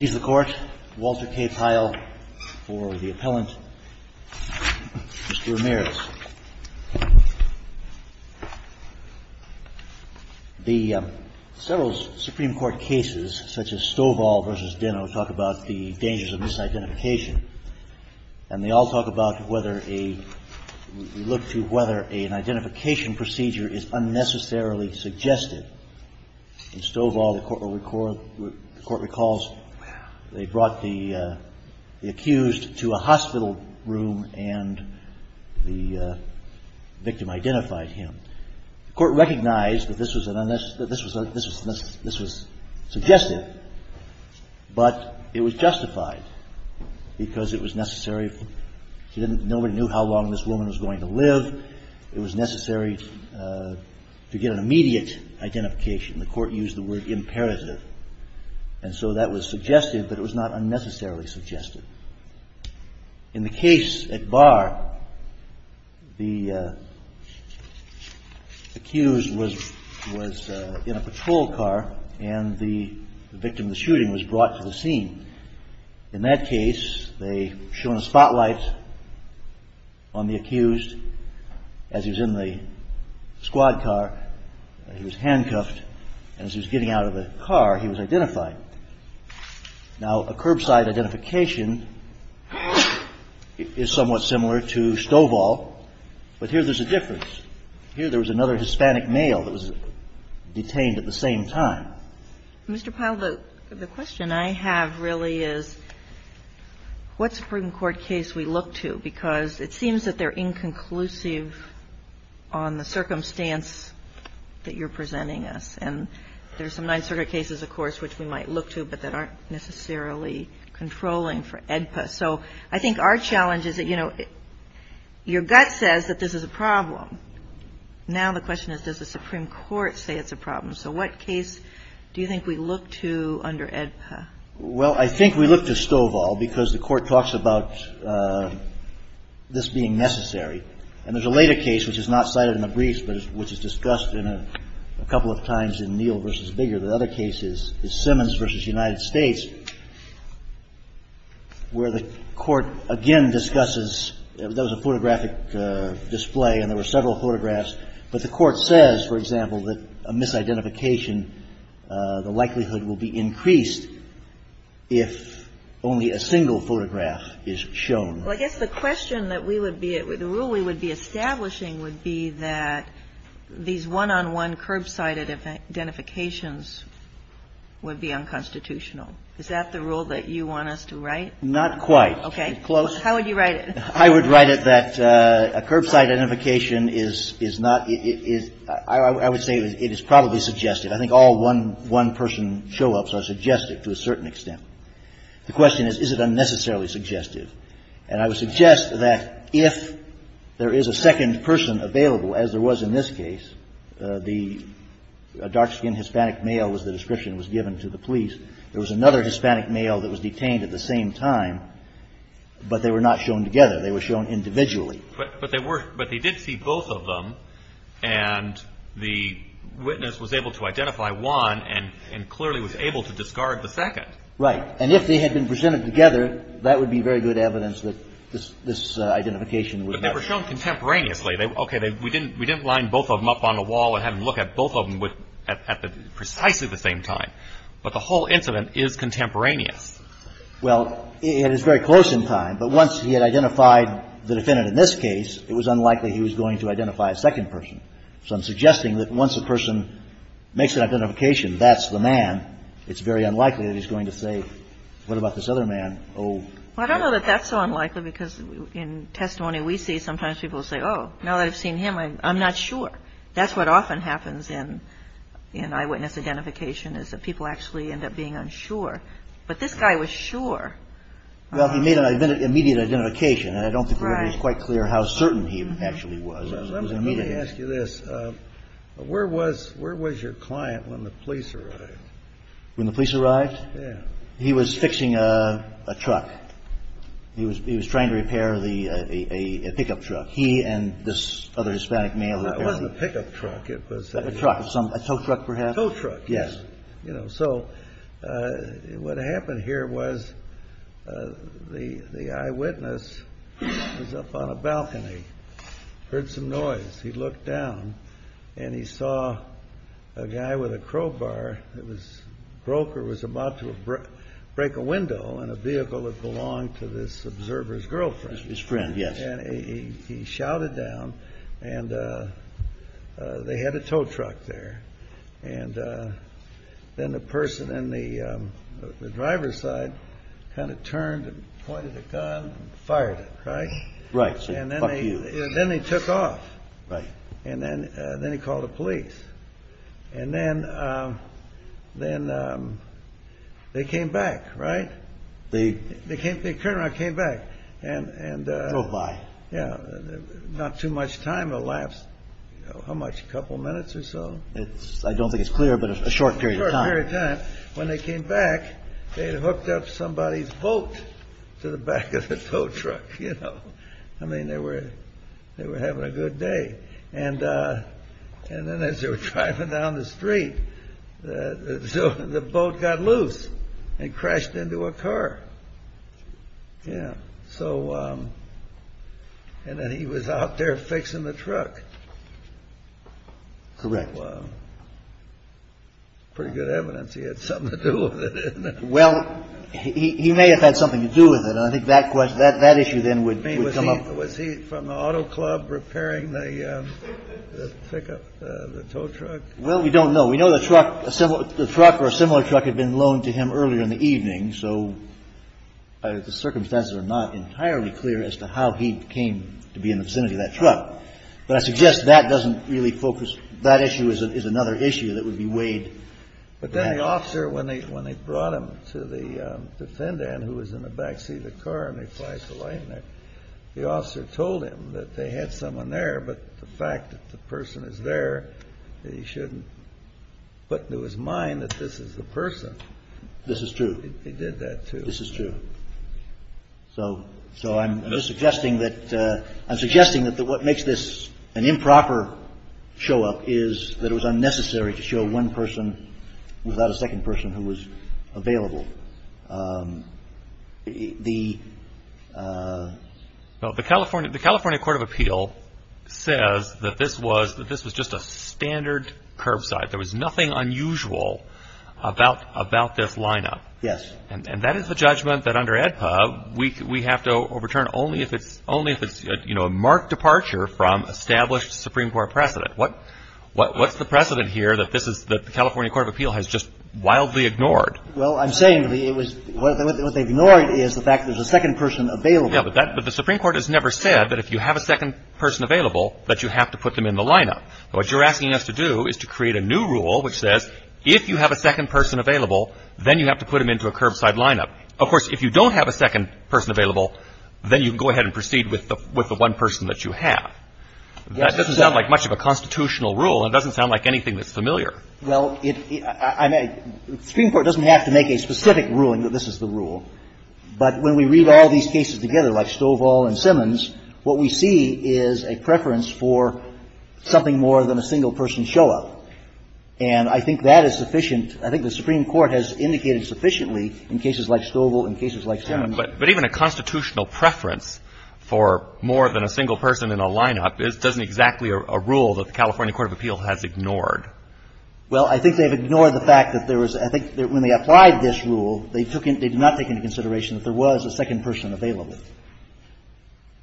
He's the court. Walter K. Pyle for the appellant. Mr. Ramirez, the several Supreme Court cases, such as Stovall v. Deno, talk about the dangers of misidentification, and they all talk about whether a, we look to whether an identification procedure is unnecessarily suggested. In Stovall, the court recalls, they brought the accused to a hospital room and the victim identified him. The court recognized that this was suggestive, but it was justified because it was necessary. Nobody knew how long this woman was going to live. It was necessary to get an immediate identification. The court used the word imperative. And so that was suggestive, but it was not unnecessarily suggested. In the case at Barr, the accused was in a patrol car and the victim of the shooting was brought to the scene. In that case, they show a spotlight on the accused as he was in the squad car, he was handcuffed, and as he was getting out of the car, he was identified. Now, a curbside identification is somewhat similar to Stovall, but here there's a difference. Here there was another Hispanic male that was detained at the same time. The question I have really is what Supreme Court case we look to, because it seems that they're inconclusive on the circumstance that you're presenting us. And there's some Ninth Circuit cases, of course, which we might look to, but that aren't necessarily controlling for AEDPA. So I think our challenge is that, you know, your gut says that this is a problem. Now the question is, does the Supreme Court say it's a problem? So what case do you think we look to under AEDPA? Well, I think we look to Stovall because the court talks about this being necessary. And there's a later case, which is not cited in the briefs, but which is discussed in a couple of times in Neal v. Biggar. The other case is Simmons v. United States, where the court again discusses, that was a photographic display and there were several photographs. But the court says, for example, that a misidentification, the likelihood will be increased if only a single photograph is shown. Well, I guess the question that we would be, the rule we would be establishing would be that these one-on-one curbside identifications would be unconstitutional. Is that the rule that you want us to write? Not quite. Okay. Close? How would you write it? I would write it that a curbside identification is not, is, I would say it is probably suggestive. I think all one person show-ups are suggestive to a certain extent. The question is, is it unnecessarily suggestive? And I would suggest that if there is a second person available, as there was in this case, the dark-skinned Hispanic male was the description that was given to the police. There was another Hispanic male that was detained at the same time, but they were not shown together. They were shown individually. But they were, but they did see both of them, and the witness was able to identify one and clearly was able to discard the second. Right. And if they had been presented together, that would be very good evidence that this, this identification would matter. But they were shown contemporaneously. Okay. We didn't, we didn't line both of them up on a wall and have them look at both of them at the, precisely the same time. But the whole incident is contemporaneous. Well, it is very close in time, but once he had identified the defendant in this case, it was unlikely he was going to identify a second person. So I'm suggesting that once a person makes an identification, that's the man, it's very unlikely that he's going to say, what about this other man? Oh. Well, I don't know that that's so unlikely, because in testimony we see, sometimes people say, oh, now that I've seen him, I'm not sure. That's what often happens in, in eyewitness identification, is that people actually end up being unsure. But this guy was sure. Well, he made an immediate identification, and I don't think it was quite clear how certain he actually was. Let me ask you this. Where was, where was your client when the police arrived? When the police arrived? Yeah. He was fixing a, a truck. He was, he was trying to repair the, a, a, a pickup truck. He and this other Hispanic male were repairing. It wasn't a pickup truck. It was a. A truck, a tow truck perhaps. A tow truck. Yes. You know, so, what happened here was the, the eyewitness was up on a balcony. He heard some noise. He looked down, and he saw a guy with a crowbar that was broke or was about to break a window in a vehicle that belonged to this observer's girlfriend. His friend, yes. And he, he shouted down, and they had a tow truck there. And then the person in the driver's side kind of turned and pointed a gun and fired it, right? Right. And then they, then they took off. Right. And then, then he called the police. And then, then they came back, right? They. They came, they turned around and came back. And, and. Drove by. Yeah. Not too much time elapsed. How much? A couple minutes or so? It's, I don't think it's clear, but a short period of time. A short period of time. When they came back, they had hooked up somebody's boat to the back of the tow truck, you know. I mean, they were, they were having a good day. And, and then as they were driving down the street, the boat got loose and crashed into a car. Yeah. So, and then he was out there fixing the truck. Correct. Pretty good evidence he had something to do with it. Well, he may have had something to do with it. I think that question, that issue then would come up. Was he from the auto club repairing the pickup, the tow truck? Well, we don't know. We know the truck, the truck or a similar truck had been loaned to him earlier in the evening. So, the circumstances are not entirely clear as to how he came to be in the vicinity of that truck. But I suggest that doesn't really focus, that issue is another issue that would be weighed. But then the officer, when they, when they brought him to the defendant who was in the backseat of the car and they applied the light in there, the officer told him that they had someone there. But the fact that the person is there, he shouldn't put into his mind that this is the person. This is true. He did that too. This is true. So, so I'm suggesting that, I'm suggesting that what makes this an improper show up is that it was unnecessary to show one person without a second person who was available. The. Well, the California, the California Court of Appeal says that this was, that this was just a standard curbside. There was nothing unusual about, about this lineup. Yes. And that is the judgment that under AEDPA, we have to overturn only if it's, only if it's, you know, a marked departure from established Supreme Court precedent. What, what, what's the precedent here that this is, that the California Court of Appeal has just wildly ignored? Well, I'm saying it was, what they've ignored is the fact that there's a second person available. Yeah, but that, but the Supreme Court has never said that if you have a second person available, that you have to put them in the lineup. What you're asking us to do is to create a new rule which says if you have a second person available, then you have to put them into a curbside lineup. Of course, if you don't have a second person available, then you can go ahead and proceed with the, with the one person that you have. That doesn't sound like much of a constitutional rule, and it doesn't sound like anything that's familiar. Well, it, I mean, the Supreme Court doesn't have to make a specific ruling that this is the rule. But when we read all these cases together, like Stovall and Simmons, what we see is a preference for something more than a single person show up. And I think that is sufficient. I think the Supreme Court has indicated sufficiently in cases like Stovall and cases like Simmons. But even a constitutional preference for more than a single person in a lineup isn't exactly a rule that the California Court of Appeal has ignored. Well, I think they've ignored the fact that there was, I think when they applied this rule, they took in, they did not take into consideration that there was a second person available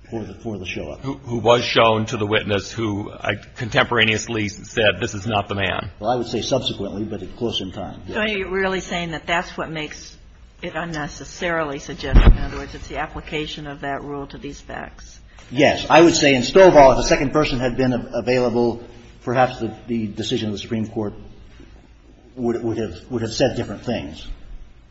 for the, for the show up. Who was shown to the witness who contemporaneously said this is not the man. Well, I would say subsequently, but at closer in time. So are you really saying that that's what makes it unnecessarily suggestive? In other words, it's the application of that rule to these facts. Yes. I would say in Stovall, if the second person had been available, perhaps the decision of the Supreme Court would have said different things.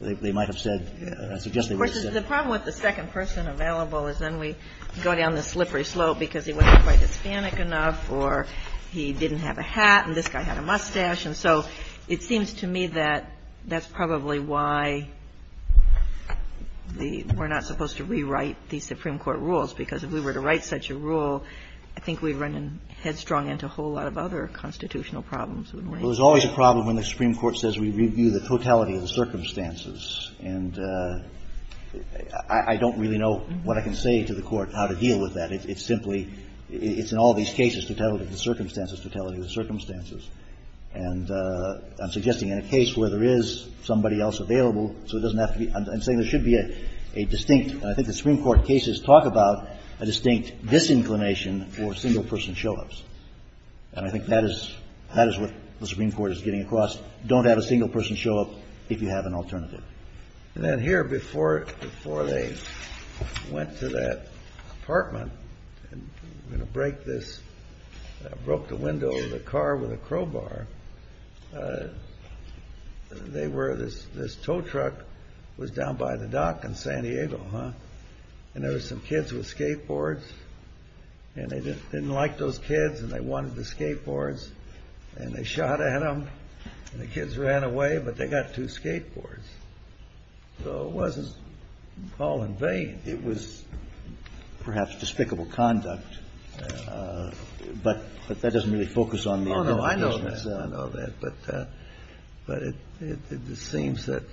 They might have said, I suggest they would have said. Of course, the problem with the second person available is then we go down the slippery slope because he wasn't quite Hispanic enough or he didn't have a hat and this guy had a mustache. And so it seems to me that that's probably why the, we're not supposed to rewrite these Supreme Court rules because if we were to write such a rule, I think we'd run headstrong into a whole lot of other constitutional problems. Well, there's always a problem when the Supreme Court says we review the totality of the circumstances. And I don't really know what I can say to the Court how to deal with that. It's simply, it's in all these cases, totality of the circumstances, totality of the circumstances. And I'm suggesting in a case where there is somebody else available, so it doesn't have to be, I'm saying there should be a distinct. And I think the Supreme Court cases talk about a distinct disinclination for single person show-ups. And I think that is, that is what the Supreme Court is getting across. Don't have a single person show-up if you have an alternative. And then here before, before they went to that apartment and break this, broke the window of the car with a crowbar, they were, this, this tow truck was down by the dock in San Diego, huh? And there were some kids with skateboards. And they didn't like those kids and they wanted the skateboards. And they shot at them. And the kids ran away, but they got two skateboards. So it wasn't all in vain. It was perhaps despicable conduct. But that doesn't really focus on the original. Oh, no, I know that. I know that. But it seems that,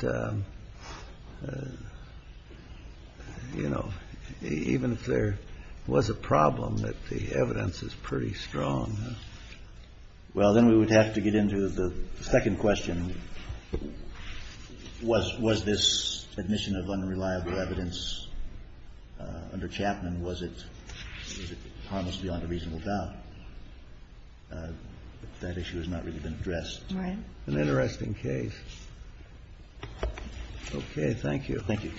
you know, even if there was a problem, that the evidence is pretty strong. Well, then we would have to get into the second question. Was this admission of unreliable evidence under Chapman, was it harmless beyond a reasonable doubt? That issue has not really been addressed. Right. An interesting case. Okay. Thank you. Thank you.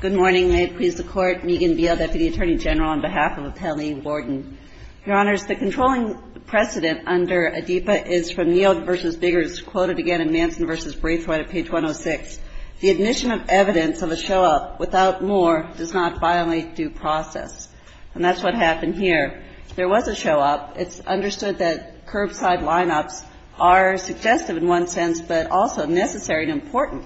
Good morning. May it please the Court. Megan Beal, Deputy Attorney General, on behalf of Appellee Warden. Your Honors, the controlling precedent under ADIPA is from Neal v. Biggers, quoted again in Manson v. Braithwaite at page 106. The admission of evidence of a show-up without more does not violate due process. And that's what happened here. There was a show-up. It's understood that curbside lineups are suggestive in one sense, but also necessary and important.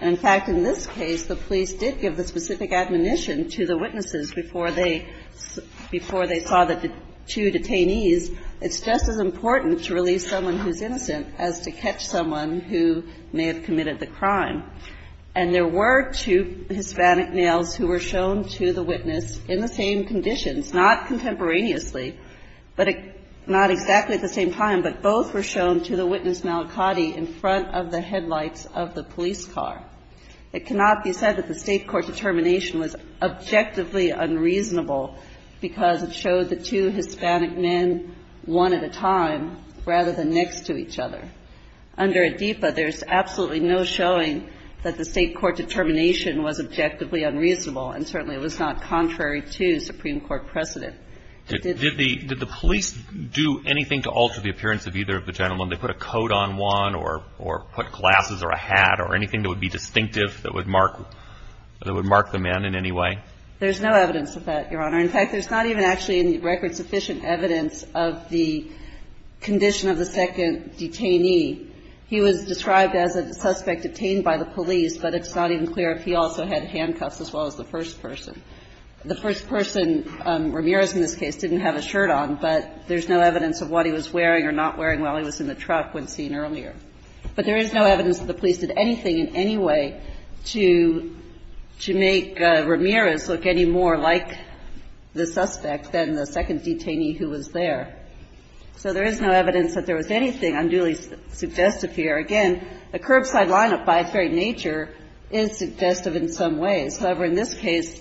And, in fact, in this case, the police did give the specific admonition to the witnesses before they saw the two detainees. It's just as important to release someone who's innocent as to catch someone who may have committed the crime. And there were two Hispanic males who were shown to the witness in the same conditions, not contemporaneously, but not exactly at the same time, but both were shown to the witness, Malacate, in front of the headlights of the police car. It cannot be said that the State court determination was objectively unreasonable because it showed the two Hispanic men one at a time rather than next to each other. Under ADEPA, there's absolutely no showing that the State court determination was objectively unreasonable, and certainly it was not contrary to Supreme Court precedent. Did the police do anything to alter the appearance of either of the gentlemen? Did they put a coat on one or put glasses or a hat or anything that would be distinctive that would mark the man in any way? There's no evidence of that, Your Honor. In fact, there's not even actually any record-sufficient evidence of the condition of the second detainee. He was described as a suspect detained by the police, but it's not even clear if he also had handcuffs as well as the first person. The first person, Ramirez in this case, didn't have a shirt on, but there's no evidence of what he was wearing or not wearing while he was in the truck when seen earlier. But there is no evidence that the police did anything in any way to make Ramirez look any more like the suspect than the second detainee who was there. So there is no evidence that there was anything unduly suggestive here. Again, the curbside lineup, by its very nature, is suggestive in some ways. However, in this case,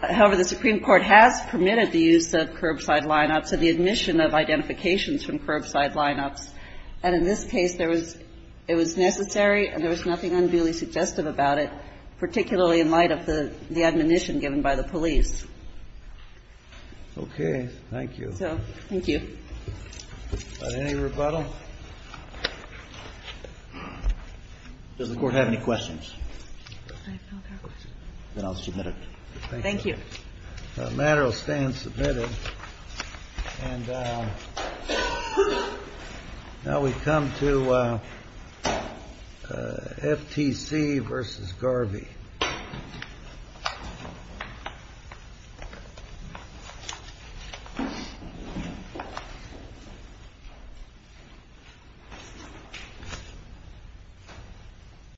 however, the Supreme Court has permitted the use of curbside lineups and the admission of identifications from curbside lineups. And in this case, there was – it was necessary and there was nothing unduly suggestive about it, particularly in light of the admonition given by the police. Okay. Thank you. So, thank you. Any rebuttal? Does the Court have any questions? I have no further questions. Then I'll submit it. Thank you. The matter will stand submitted. And now we come to FTC v. Garvey.